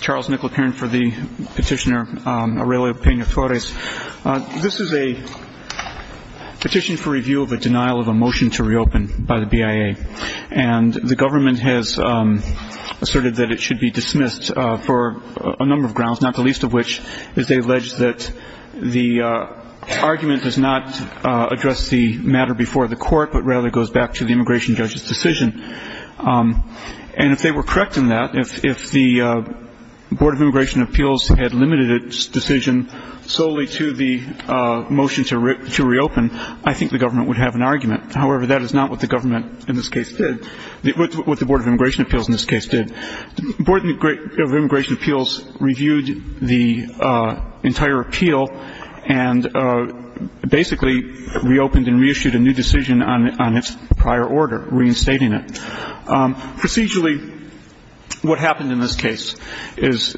Charles Nicola Perrin for the petitioner Aurelio Pena-Torres. This is a petition for review of a denial of a motion to reopen by the BIA. And the government has asserted that it should be dismissed for a number of grounds, not the least of which is they allege that the argument does not address the matter before the court, And if they were correct in that, if the Board of Immigration Appeals had limited its decision solely to the motion to reopen, I think the government would have an argument. However, that is not what the Board of Immigration Appeals in this case did. The Board of Immigration Appeals reviewed the entire appeal and basically reopened and reissued a new decision on its prior order, reinstating it. Procedurally, what happened in this case is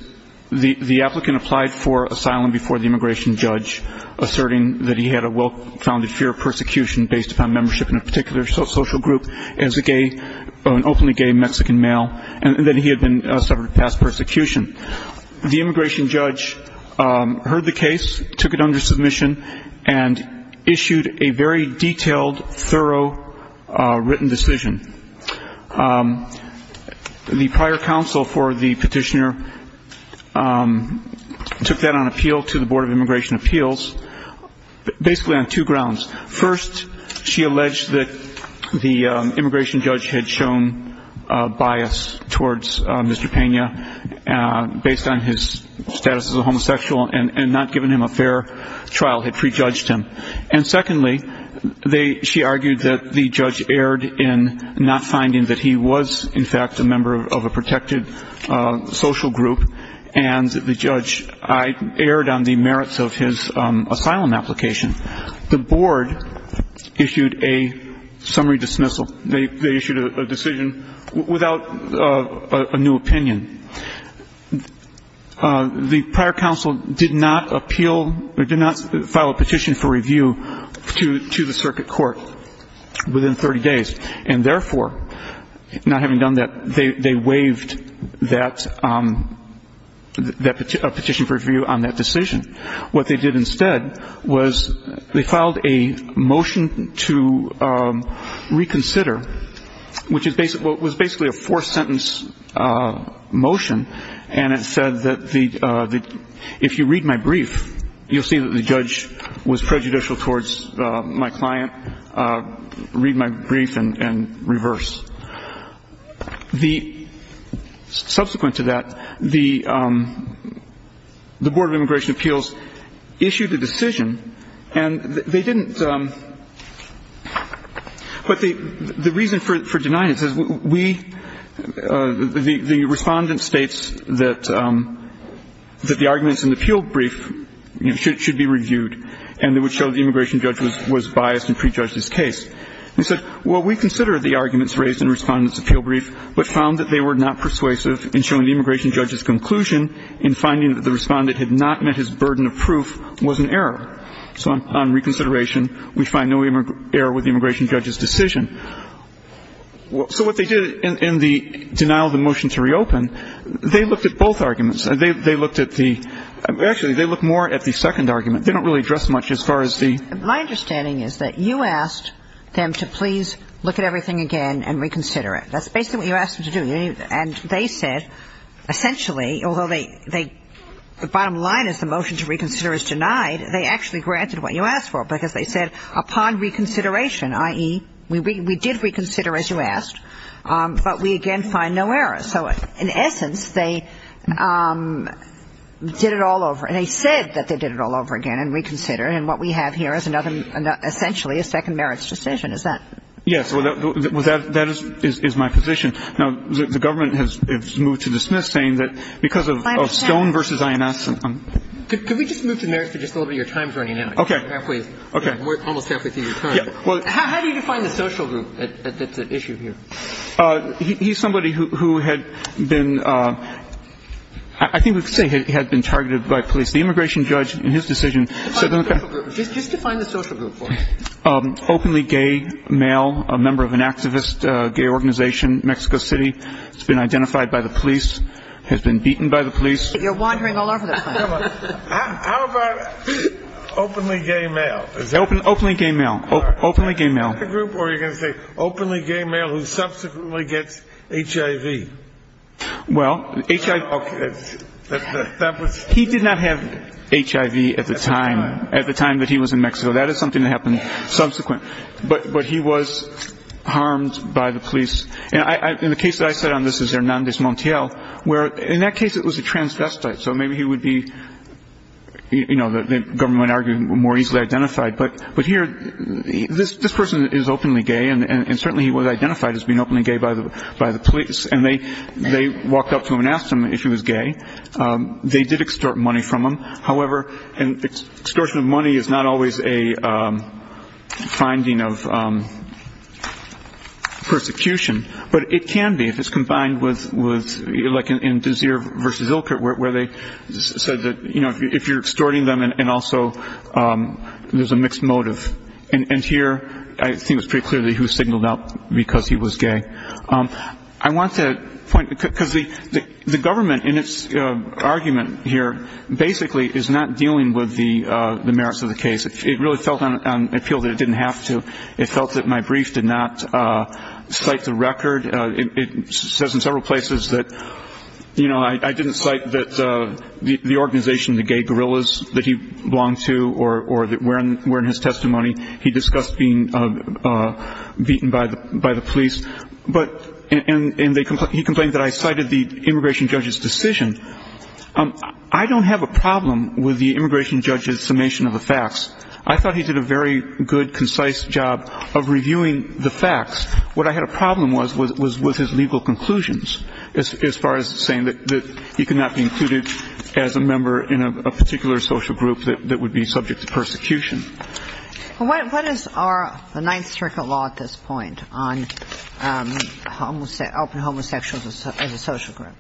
the applicant applied for asylum before the immigration judge, asserting that he had a well-founded fear of persecution based upon membership in a particular social group as an openly gay Mexican male, and that he had been subject to past persecution. The immigration judge heard the case, took it under submission, and issued a very detailed, thorough written decision. The prior counsel for the petitioner took that on appeal to the Board of Immigration Appeals, basically on two grounds. First, she alleged that the immigration judge had shown bias towards Mr. Pena based on his status as a homosexual and not given him a fair trial, had prejudged him. And secondly, she argued that the judge erred in not finding that he was, in fact, a member of a protected social group, and the judge erred on the merits of his asylum application. The Board issued a summary dismissal. They issued a decision without a new opinion. The prior counsel did not appeal or did not file a petition for review to the circuit court within 30 days, and therefore, not having done that, they waived that petition for review on that decision. What they did instead was they filed a motion to reconsider, which was basically a four-sentence motion, and it said that if you read my brief, you'll see that the judge was prejudicial towards my client. Read my brief and reverse. Subsequent to that, the Board of Immigration Appeals issued a decision, and they didn't approve of it. The reason for denying it is the respondent states that the arguments in the appeal brief should be reviewed, and it would show the immigration judge was biased and prejudged his case. They said, well, we consider the arguments raised in the respondent's appeal brief, but found that they were not persuasive in showing the immigration judge's conclusion in finding that the respondent had not met his burden of proof was an error. So on reconsideration, we find no error with the immigration judge's decision. So what they did in the denial of the motion to reopen, they looked at both arguments. They looked at the ‑‑ actually, they looked more at the second argument. They don't really address much as far as the ‑‑ My understanding is that you asked them to please look at everything again and reconsider it. That's basically what you asked them to do. And they said essentially, although they ‑‑ the bottom line is the motion to reconsider is denied, they actually granted what you asked for, because they said upon reconsideration, i.e., we did reconsider as you asked, but we again find no error. So in essence, they did it all over. And they said that they did it all over again and reconsidered. And what we have here is essentially a second merits decision. Is that ‑‑ Yes. That is my position. Now, the government has moved to dismiss, saying that because of Stone v. INS ‑‑ Could we just move to merits for just a little bit? Your time is running out. Okay. Halfway. Almost halfway through your time. How do you define the social group that's at issue here? He's somebody who had been ‑‑ I think we could say had been targeted by police. The immigration judge in his decision said that the ‑‑ Just define the social group for me. Openly gay male, a member of an activist gay organization, Mexico City, has been identified by the police, has been beaten by the police. You're wandering all over the place. How about openly gay male? Openly gay male. Openly gay male. Is that the social group, or are you going to say openly gay male who subsequently gets HIV? Well, HIV ‑‑ Okay. That was ‑‑ He did not have HIV at the time, at the time that he was in Mexico. That is something that happened subsequent. But he was harmed by the police. And the case that I said on this is Hernandez Montiel, where in that case it was a transvestite, so maybe he would be, you know, the government would argue more easily identified. But here, this person is openly gay, and certainly he was identified as being openly gay by the police. And they walked up to him and asked him if he was gay. They did extort money from him. However, extortion of money is not always a finding of persecution. But it can be if it's combined with, like in Desir v. Ilkert, where they said that, you know, if you're extorting them and also there's a mixed motive. And here I think it's pretty clear that he was signaled out because he was gay. I want to point ‑‑ because the government in its argument here basically is not dealing with the merits of the case. It really felt on appeal that it didn't have to. It felt that my brief did not cite the record. It says in several places that, you know, I didn't cite that the organization, the Gay Gorillas, that he belonged to or were in his testimony. He discussed being beaten by the police. And he complained that I cited the immigration judge's decision. I don't have a problem with the immigration judge's summation of the facts. I thought he did a very good, concise job of reviewing the facts. What I had a problem with was his legal conclusions as far as saying that he could not be included as a member in a particular social group that would be subject to persecution. Well, what is the Ninth Circuit law at this point on open homosexuals as a social group?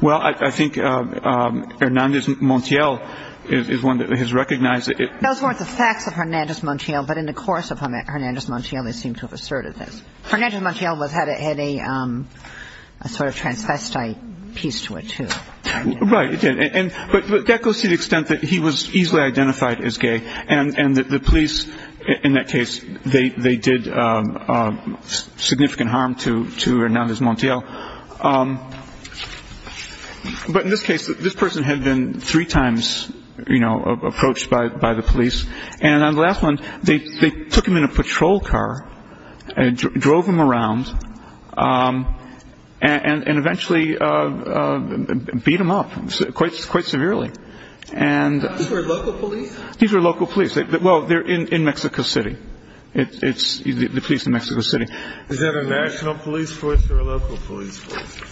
Well, I think Hernández Montiel is one that has recognized it. Those weren't the facts of Hernández Montiel. But in the course of Hernández Montiel, they seem to have asserted this. Hernández Montiel had a sort of transvestite piece to it, too. Right. But that goes to the extent that he was easily identified as gay. And the police in that case, they did significant harm to Hernández Montiel. But in this case, this person had been three times, you know, approached by the police. And on the last one, they took him in a patrol car and drove him around and eventually beat him up quite severely. These were local police? These were local police. Well, they're in Mexico City. It's the police in Mexico City. Is that a national police force or a local police force?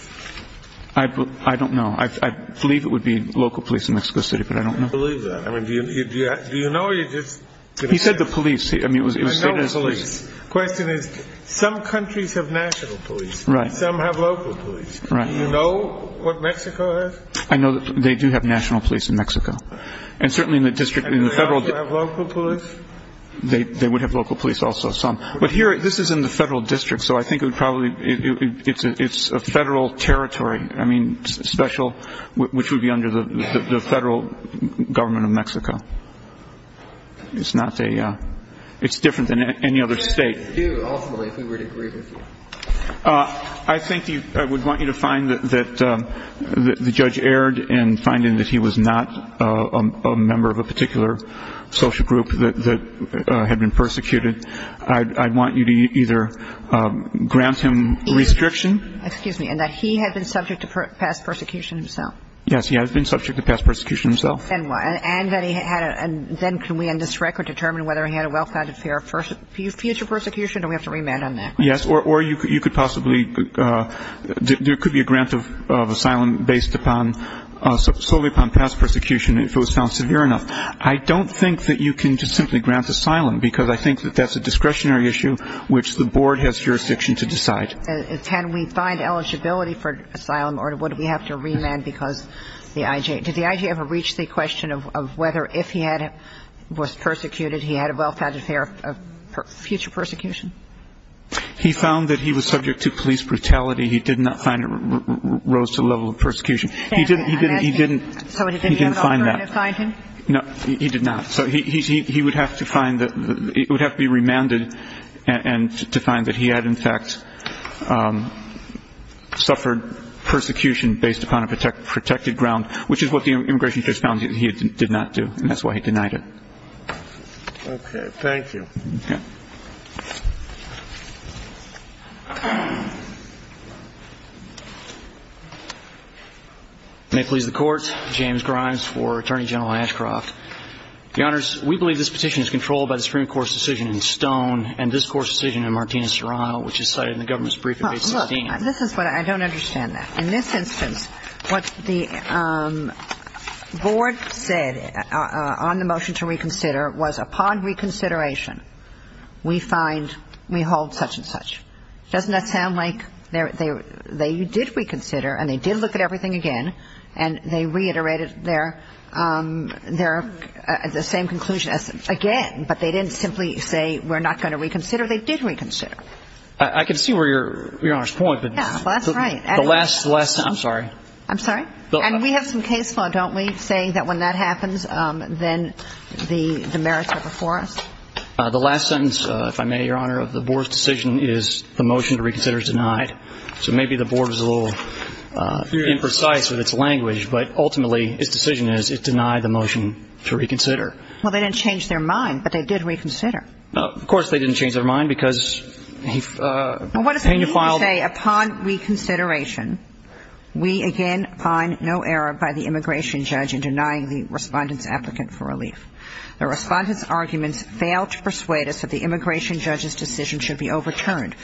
I don't know. I believe it would be local police in Mexico City, but I don't know. I don't believe that. I mean, do you know? He said the police. I know the police. The question is, some countries have national police. Right. Some have local police. Right. Do you know what Mexico has? I know they do have national police in Mexico. And certainly in the district, in the federal district. Do they also have local police? They would have local police also, some. But here, this is in the federal district, so I think it would probably be a federal territory, I mean, special, which would be under the federal government of Mexico. It's not a ñ it's different than any other state. What would you do, ultimately, if we were to agree with you? I think I would want you to find that the judge erred in finding that he was not a member of a particular social group that had been persecuted. I'd want you to either grant him restriction. Excuse me, and that he had been subject to past persecution himself? Yes, he has been subject to past persecution himself. And that he had a ñ and then can we, on this record, determine whether he had a well-founded fear of future persecution, or do we have to remand on that? Yes, or you could possibly ñ there could be a grant of asylum based upon ñ solely upon past persecution, if it was found severe enough. I don't think that you can just simply grant asylum, because I think that that's a discretionary issue which the board has jurisdiction to decide. Can we find eligibility for asylum, or would we have to remand because the I.G. ñ did the I.G. ever reach the question of whether if he had ñ was persecuted, he had a well-founded fear of future persecution? He found that he was subject to police brutality. He did not find it rose to the level of persecution. He didn't ñ he didn't ñ he didn't find that. So did the other officer find him? No, he did not. So he would have to find that ñ he would have to be remanded to find that he had, in fact, suffered persecution based upon a protected ground, which is what the immigration judge found he did not do, and that's why he denied it. Okay. Thank you. May it please the Court, James Grimes for Attorney General Ashcroft. Your Honors, we believe this petition is controlled by the Supreme Court's decision in Stone and this Court's decision in Martinez-Serrano, which is cited in the government's brief in Page 16. Well, look, this is what ñ I don't understand that. In this instance, what the board said on the motion to reconsider was upon reconsideration, we find ñ we hold such and such. Doesn't that sound like they ñ they did reconsider and they did look at everything again and they reiterated their ñ the same conclusion as again, but they didn't simply say we're not going to reconsider. They did reconsider. I can see where you're ñ Your Honor's point, but the last ñ I'm sorry. I'm sorry? And we have some case law, don't we, saying that when that happens, then the merits are before us? The last sentence, if I may, Your Honor, of the board's decision is the motion to reconsider is denied. So maybe the board is a little imprecise with its language, but ultimately, its decision is it denied the motion to reconsider. Well, they didn't change their mind, but they did reconsider. Of course they didn't change their mind because he ñ he filed ñ Well, what does it mean to say upon reconsideration, we again find no error by the immigration judge in denying the Respondent's applicant for relief? The Respondent's arguments fail to persuade us that the immigration judge's decision should be overturned.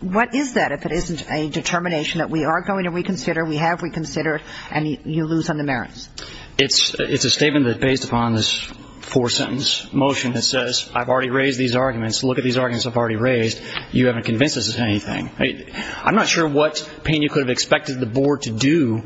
What is that if it isn't a determination that we are going to reconsider, we have reconsidered, and you lose on the merits? It's ñ it's a statement that's based upon this four-sentence motion that says I've already raised these arguments. Look at these arguments I've already raised. You haven't convinced us of anything. I'm not sure what Pena could have expected the board to do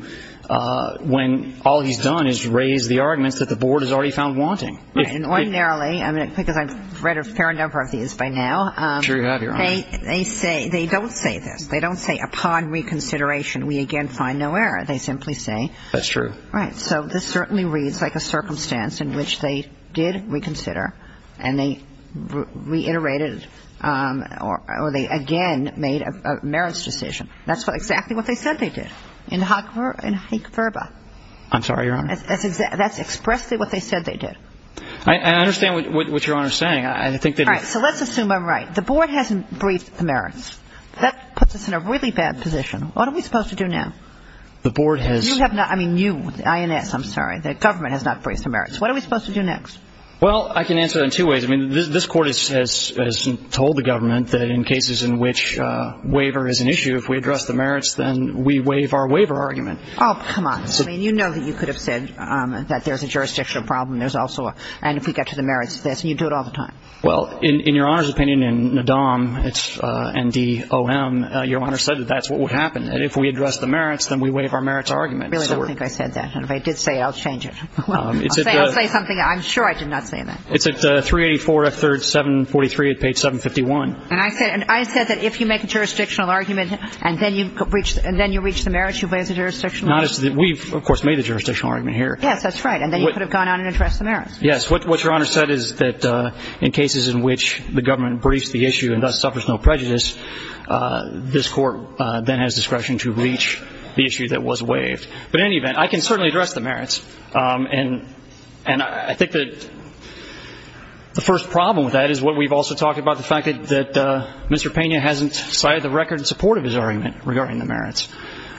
when all he's done is raise the arguments that the board has already found wanting. And ordinarily, I mean, because I've read a fair number of these by now. Sure you have, Your Honor. They say ñ they don't say this. They don't say upon reconsideration, we again find no error. They simply say ñ That's true. Right. So this certainly reads like a circumstance in which they did reconsider and they reiterated or they again made a merits decision. That's exactly what they said they did in Hague Verba. I'm sorry, Your Honor. That's exactly ñ that's expressly what they said they did. I understand what Your Honor is saying. I think that ñ All right. So let's assume I'm right. The board hasn't briefed the merits. That puts us in a really bad position. What are we supposed to do now? The board has ñ You have not ñ I mean, you, INS, I'm sorry. The government has not briefed the merits. What are we supposed to do next? Well, I can answer that in two ways. I mean, this Court has told the government that in cases in which waiver is an issue, if we address the merits, then we waive our waiver argument. Oh, come on. I mean, you know that you could have said that there's a jurisdictional problem. There's also a ñ and if we get to the merits, you do it all the time. Well, in Your Honor's opinion, in NADOM, it's N-D-O-M, Your Honor said that that's what would happen. And if we address the merits, then we waive our merits argument. I really don't think I said that. And if I did say it, I'll change it. I'll say something. I'm sure I did not say that. It's at 384-743 at page 751. And I said that if you make a jurisdictional argument and then you reach the merits, you waive the jurisdictional argument? We've, of course, made the jurisdictional argument here. Yes, that's right. And then you could have gone out and addressed the merits. Yes, what Your Honor said is that in cases in which the government briefs the issue and thus suffers no prejudice, this Court then has discretion to reach the issue that was waived. But in any event, I can certainly address the merits. And I think that the first problem with that is what we've also talked about, the fact that Mr. Pena hasn't cited the record in support of his argument regarding the merits.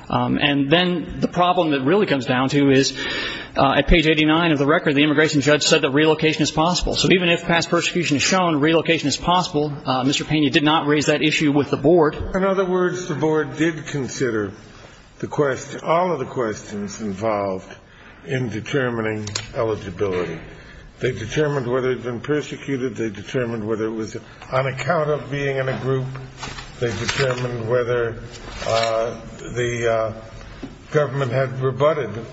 And then the problem that really comes down to is at page 89 of the record, the immigration judge said that relocation is possible. So even if past persecution is shown, relocation is possible, Mr. Pena did not raise that issue with the Board. In other words, the Board did consider the question, all of the questions involved in determining eligibility. They determined whether it had been persecuted. They determined whether it was on account of being in a group. They determined whether the government had rebutted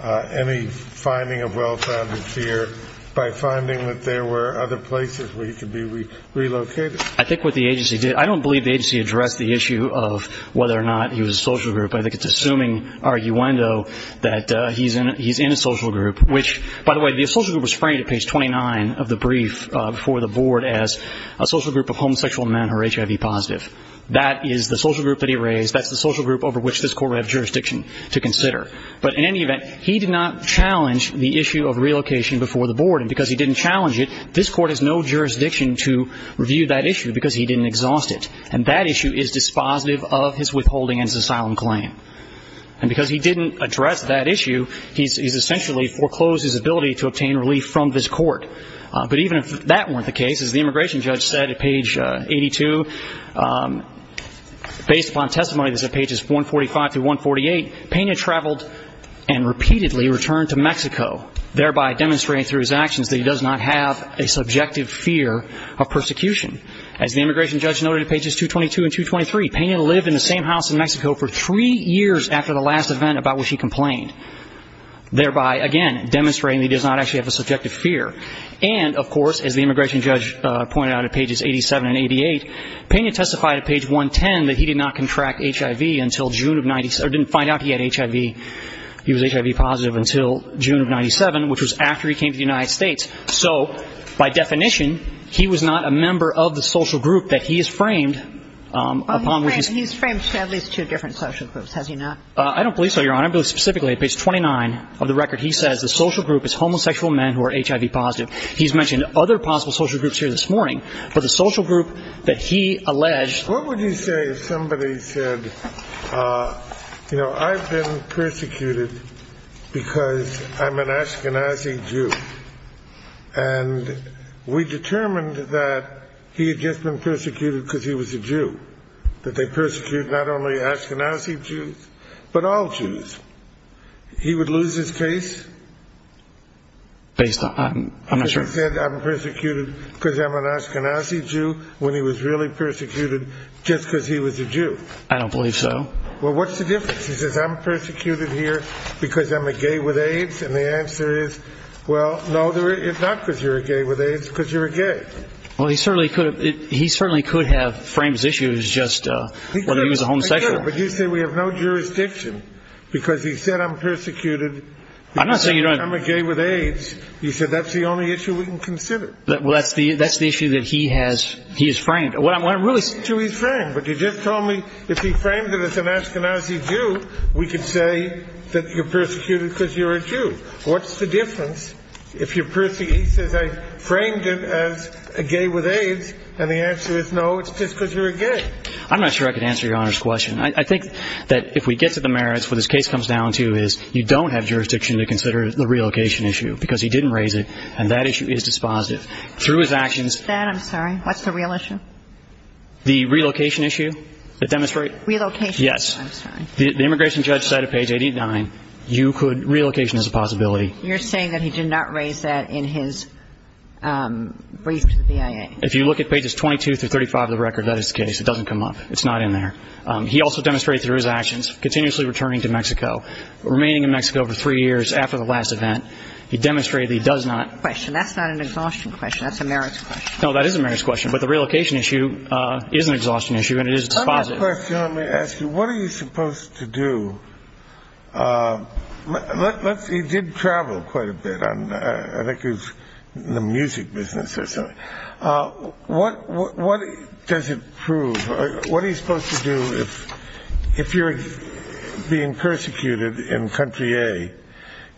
any finding of well-founded fear by finding that there were other places where he could be relocated. I think what the agency did, I don't believe the agency addressed the issue of whether or not he was a social group. I think it's assuming arguendo that he's in a social group, which, by the way, the social group was framed at page 29 of the brief before the Board as a social group of homosexual men who are HIV positive. That is the social group that he raised. That's the social group over which this Court would have jurisdiction to consider. But in any event, he did not challenge the issue of relocation before the Board, and because he didn't challenge it, this Court has no jurisdiction to review that issue because he didn't exhaust it. And that issue is dispositive of his withholding and his asylum claim. And because he didn't address that issue, he's essentially foreclosed his ability to obtain relief from this Court. But even if that weren't the case, as the immigration judge said at page 82, based upon testimony that's at pages 145 to 148, Peña traveled and repeatedly returned to Mexico, thereby demonstrating through his actions that he does not have a subjective fear of persecution. As the immigration judge noted at pages 222 and 223, Peña lived in the same house in Mexico for three years after the last event about which he complained, thereby, again, demonstrating that he does not actually have a subjective fear. And, of course, as the immigration judge pointed out at pages 87 and 88, Peña testified at page 110 that he did not contract HIV until June of 1997 or didn't find out he had HIV. He was HIV positive until June of 1997, which was after he came to the United States. So by definition, he was not a member of the social group that he has framed upon which he's ---- He's framed to at least two different social groups, has he not? I don't believe so, Your Honor. I believe specifically at page 29 of the record he says the social group is homosexual men who are HIV positive. He's mentioned other possible social groups here this morning, but the social group that he alleged ---- And we determined that he had just been persecuted because he was a Jew, that they persecute not only Ashkenazi Jews, but all Jews. He would lose his case? Based on ---- I'm not sure. He said, I'm persecuted because I'm an Ashkenazi Jew when he was really persecuted just because he was a Jew. I don't believe so. Well, what's the difference? He says, I'm persecuted here because I'm a gay with AIDS. And the answer is, well, no, not because you're a gay with AIDS, because you're a gay. Well, he certainly could have framed his issue as just whether he was a homosexual. But you say we have no jurisdiction because he said, I'm persecuted because I'm a gay with AIDS. You said that's the only issue we can consider. Well, that's the issue that he has framed. But you just told me if he framed it as an Ashkenazi Jew, we could say that you're persecuted because you're a Jew. What's the difference if you're persecuted? He says, I framed it as a gay with AIDS. And the answer is, no, it's just because you're a gay. I'm not sure I could answer Your Honor's question. I think that if we get to the merits, what this case comes down to is you don't have jurisdiction to consider the relocation issue because he didn't raise it, and that issue is dispositive. Through his actions ---- I'm sorry. What's the real issue? The relocation issue that demonstrates ---- Relocation. Yes. I'm sorry. The immigration judge said at page 89, relocation is a possibility. You're saying that he did not raise that in his brief to the BIA. If you look at pages 22 through 35 of the record, that is the case. It doesn't come up. It's not in there. He also demonstrated through his actions, continuously returning to Mexico, remaining in Mexico for three years after the last event, he demonstrated he does not ---- Question. That's not an exhaustion question. That's a merits question. No, that is a merits question. But the relocation issue is an exhaustion issue, and it is dispositive. Let me ask you, what are you supposed to do? He did travel quite a bit. I think he was in the music business or something. What does it prove? What are you supposed to do if you're being persecuted in country A,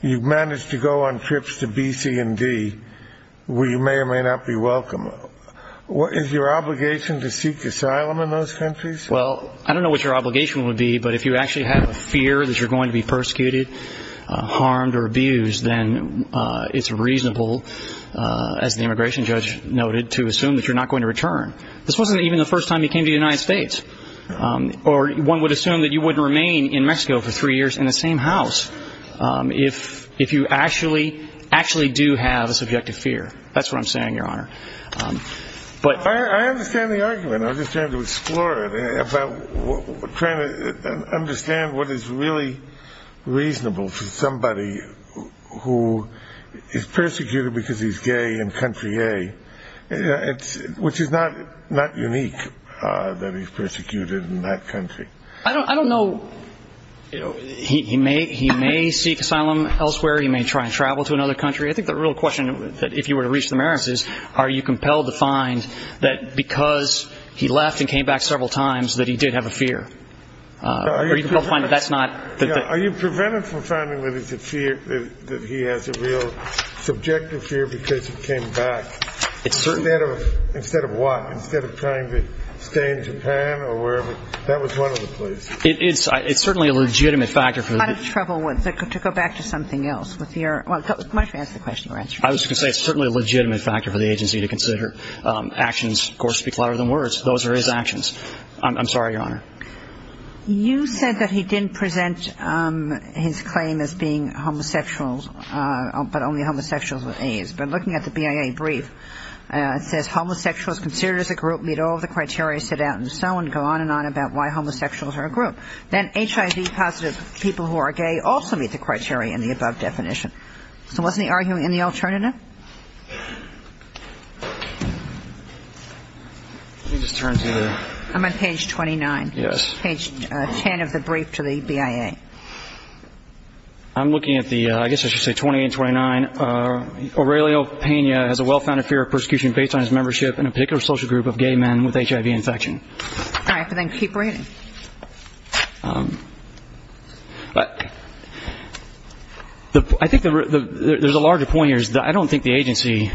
you've managed to go on trips to B, C, and D where you may or may not be welcome? Is your obligation to seek asylum in those countries? Well, I don't know what your obligation would be, but if you actually have a fear that you're going to be persecuted, harmed, or abused, then it's reasonable, as the immigration judge noted, to assume that you're not going to return. This wasn't even the first time he came to the United States. Or one would assume that you wouldn't remain in Mexico for three years in the same house if you actually do have a subjective fear. That's what I'm saying, Your Honor. I understand the argument. I'm just trying to explore it, trying to understand what is really reasonable for somebody who is persecuted because he's gay in country A, which is not unique that he's persecuted in that country. I don't know. He may seek asylum elsewhere. He may try and travel to another country. I think the real question, if you were to reach the merits, is, are you compelled to find that because he left and came back several times that he did have a fear? Are you compelled to find that that's not? That he has a real subjective fear because he came back? Instead of what? Instead of trying to stay in Japan or wherever? That was one of the places. It's certainly a legitimate factor. I'm in trouble to go back to something else. Why don't you answer the question? I was going to say it's certainly a legitimate factor for the agency to consider. Actions, of course, speak louder than words. Those are his actions. I'm sorry, Your Honor. You said that he didn't present his claim as being homosexual, but only homosexuals with A's. But looking at the BIA brief, it says, homosexuals considered as a group meet all the criteria set out and so on, go on and on about why homosexuals are a group. Then HIV-positive people who are gay also meet the criteria in the above definition. So wasn't he arguing in the alternative? Aurelio? I'm on page 29. Yes. Page 10 of the brief to the BIA. I'm looking at the, I guess I should say 28 and 29. Aurelio Pena has a well-founded fear of persecution based on his membership in a particular social group of gay men with HIV infection. All right, but then keep reading. I think there's a larger point here. I don't think the agency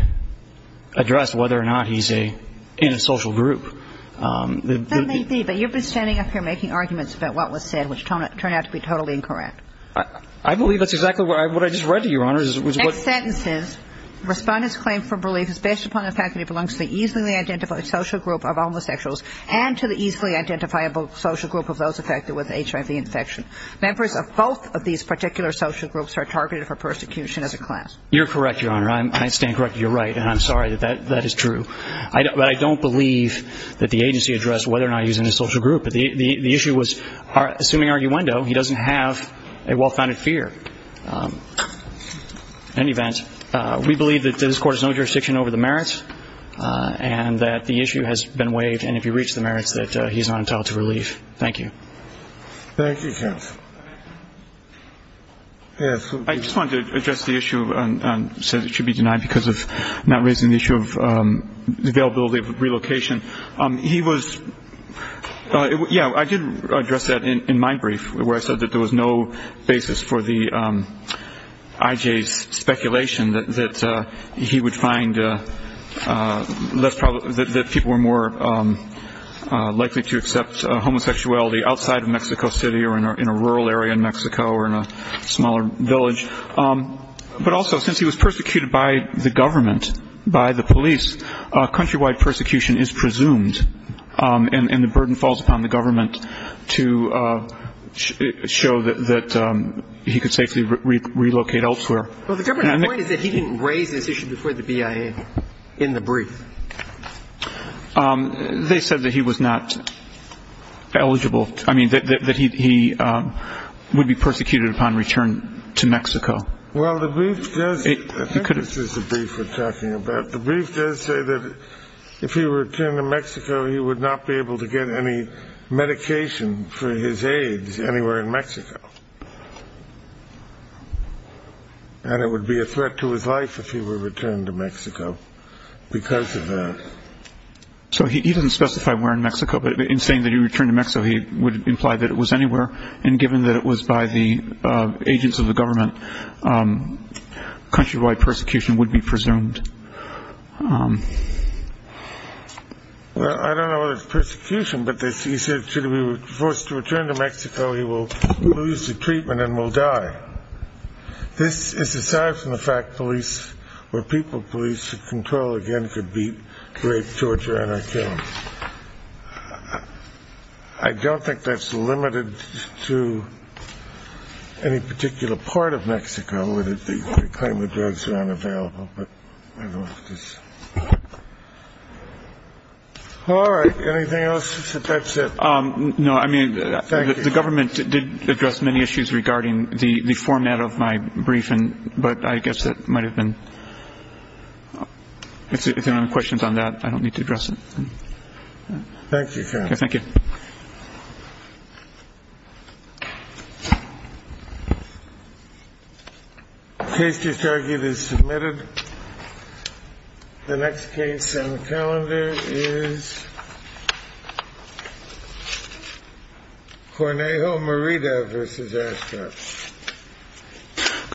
addressed whether or not he's in a social group. There may be, but you've been standing up here making arguments about what was said, which turned out to be totally incorrect. I believe that's exactly what I just read to you, Your Honor. Next sentence says, Respondent's claim for belief is based upon the fact that he belongs to the easily identified social group of homosexuals and to the easily identifiable social group of those affected with HIV infection. Members of both of these particular social groups are targeted for persecution as a class. You're correct, Your Honor. I stand corrected. You're right, and I'm sorry that that is true. But I don't believe that the agency addressed whether or not he was in a social group. The issue was, assuming arguendo, he doesn't have a well-founded fear. In any event, we believe that this Court has no jurisdiction over the merits and that the issue has been waived, and if you reach the merits, that he's not entitled to relief. Thank you. Thank you, counsel. I just wanted to address the issue on whether it should be denied because of not raising the issue of the availability of relocation. He was, yeah, I did address that in my brief, where I said that there was no basis for the IJ's speculation that he would find less or more likely to accept homosexuality outside of Mexico City or in a rural area in Mexico or in a smaller village. But also, since he was persecuted by the government, by the police, countrywide persecution is presumed, and the burden falls upon the government to show that he could safely relocate elsewhere. Well, the government's point is that he didn't raise this issue before the BIA in the brief. They said that he was not eligible, I mean, that he would be persecuted upon return to Mexico. Well, the brief does say that if he were to return to Mexico, he would not be able to get any medication for his AIDS anywhere in Mexico, and it would be a threat to his life if he were returned to Mexico because of that. So he doesn't specify where in Mexico, but in saying that he returned to Mexico, he would imply that it was anywhere, and given that it was by the agents of the government, countrywide persecution would be presumed. Well, I don't know if it's persecution, but he said should he be forced to return to Mexico, he will lose the treatment and will die. This is aside from the fact police or people police control again could be rape, torture, and killing. I don't think that's limited to any particular part of Mexico, the claim of drugs are unavailable. All right. Anything else? That's it. No, I mean, the government did address many issues regarding the format of my briefing, but I guess that might have been if you have any questions on that, I don't need to address it. Thank you. Thank you. The case disargued is submitted. The next case on the calendar is Cornejo Merida v. Ashton.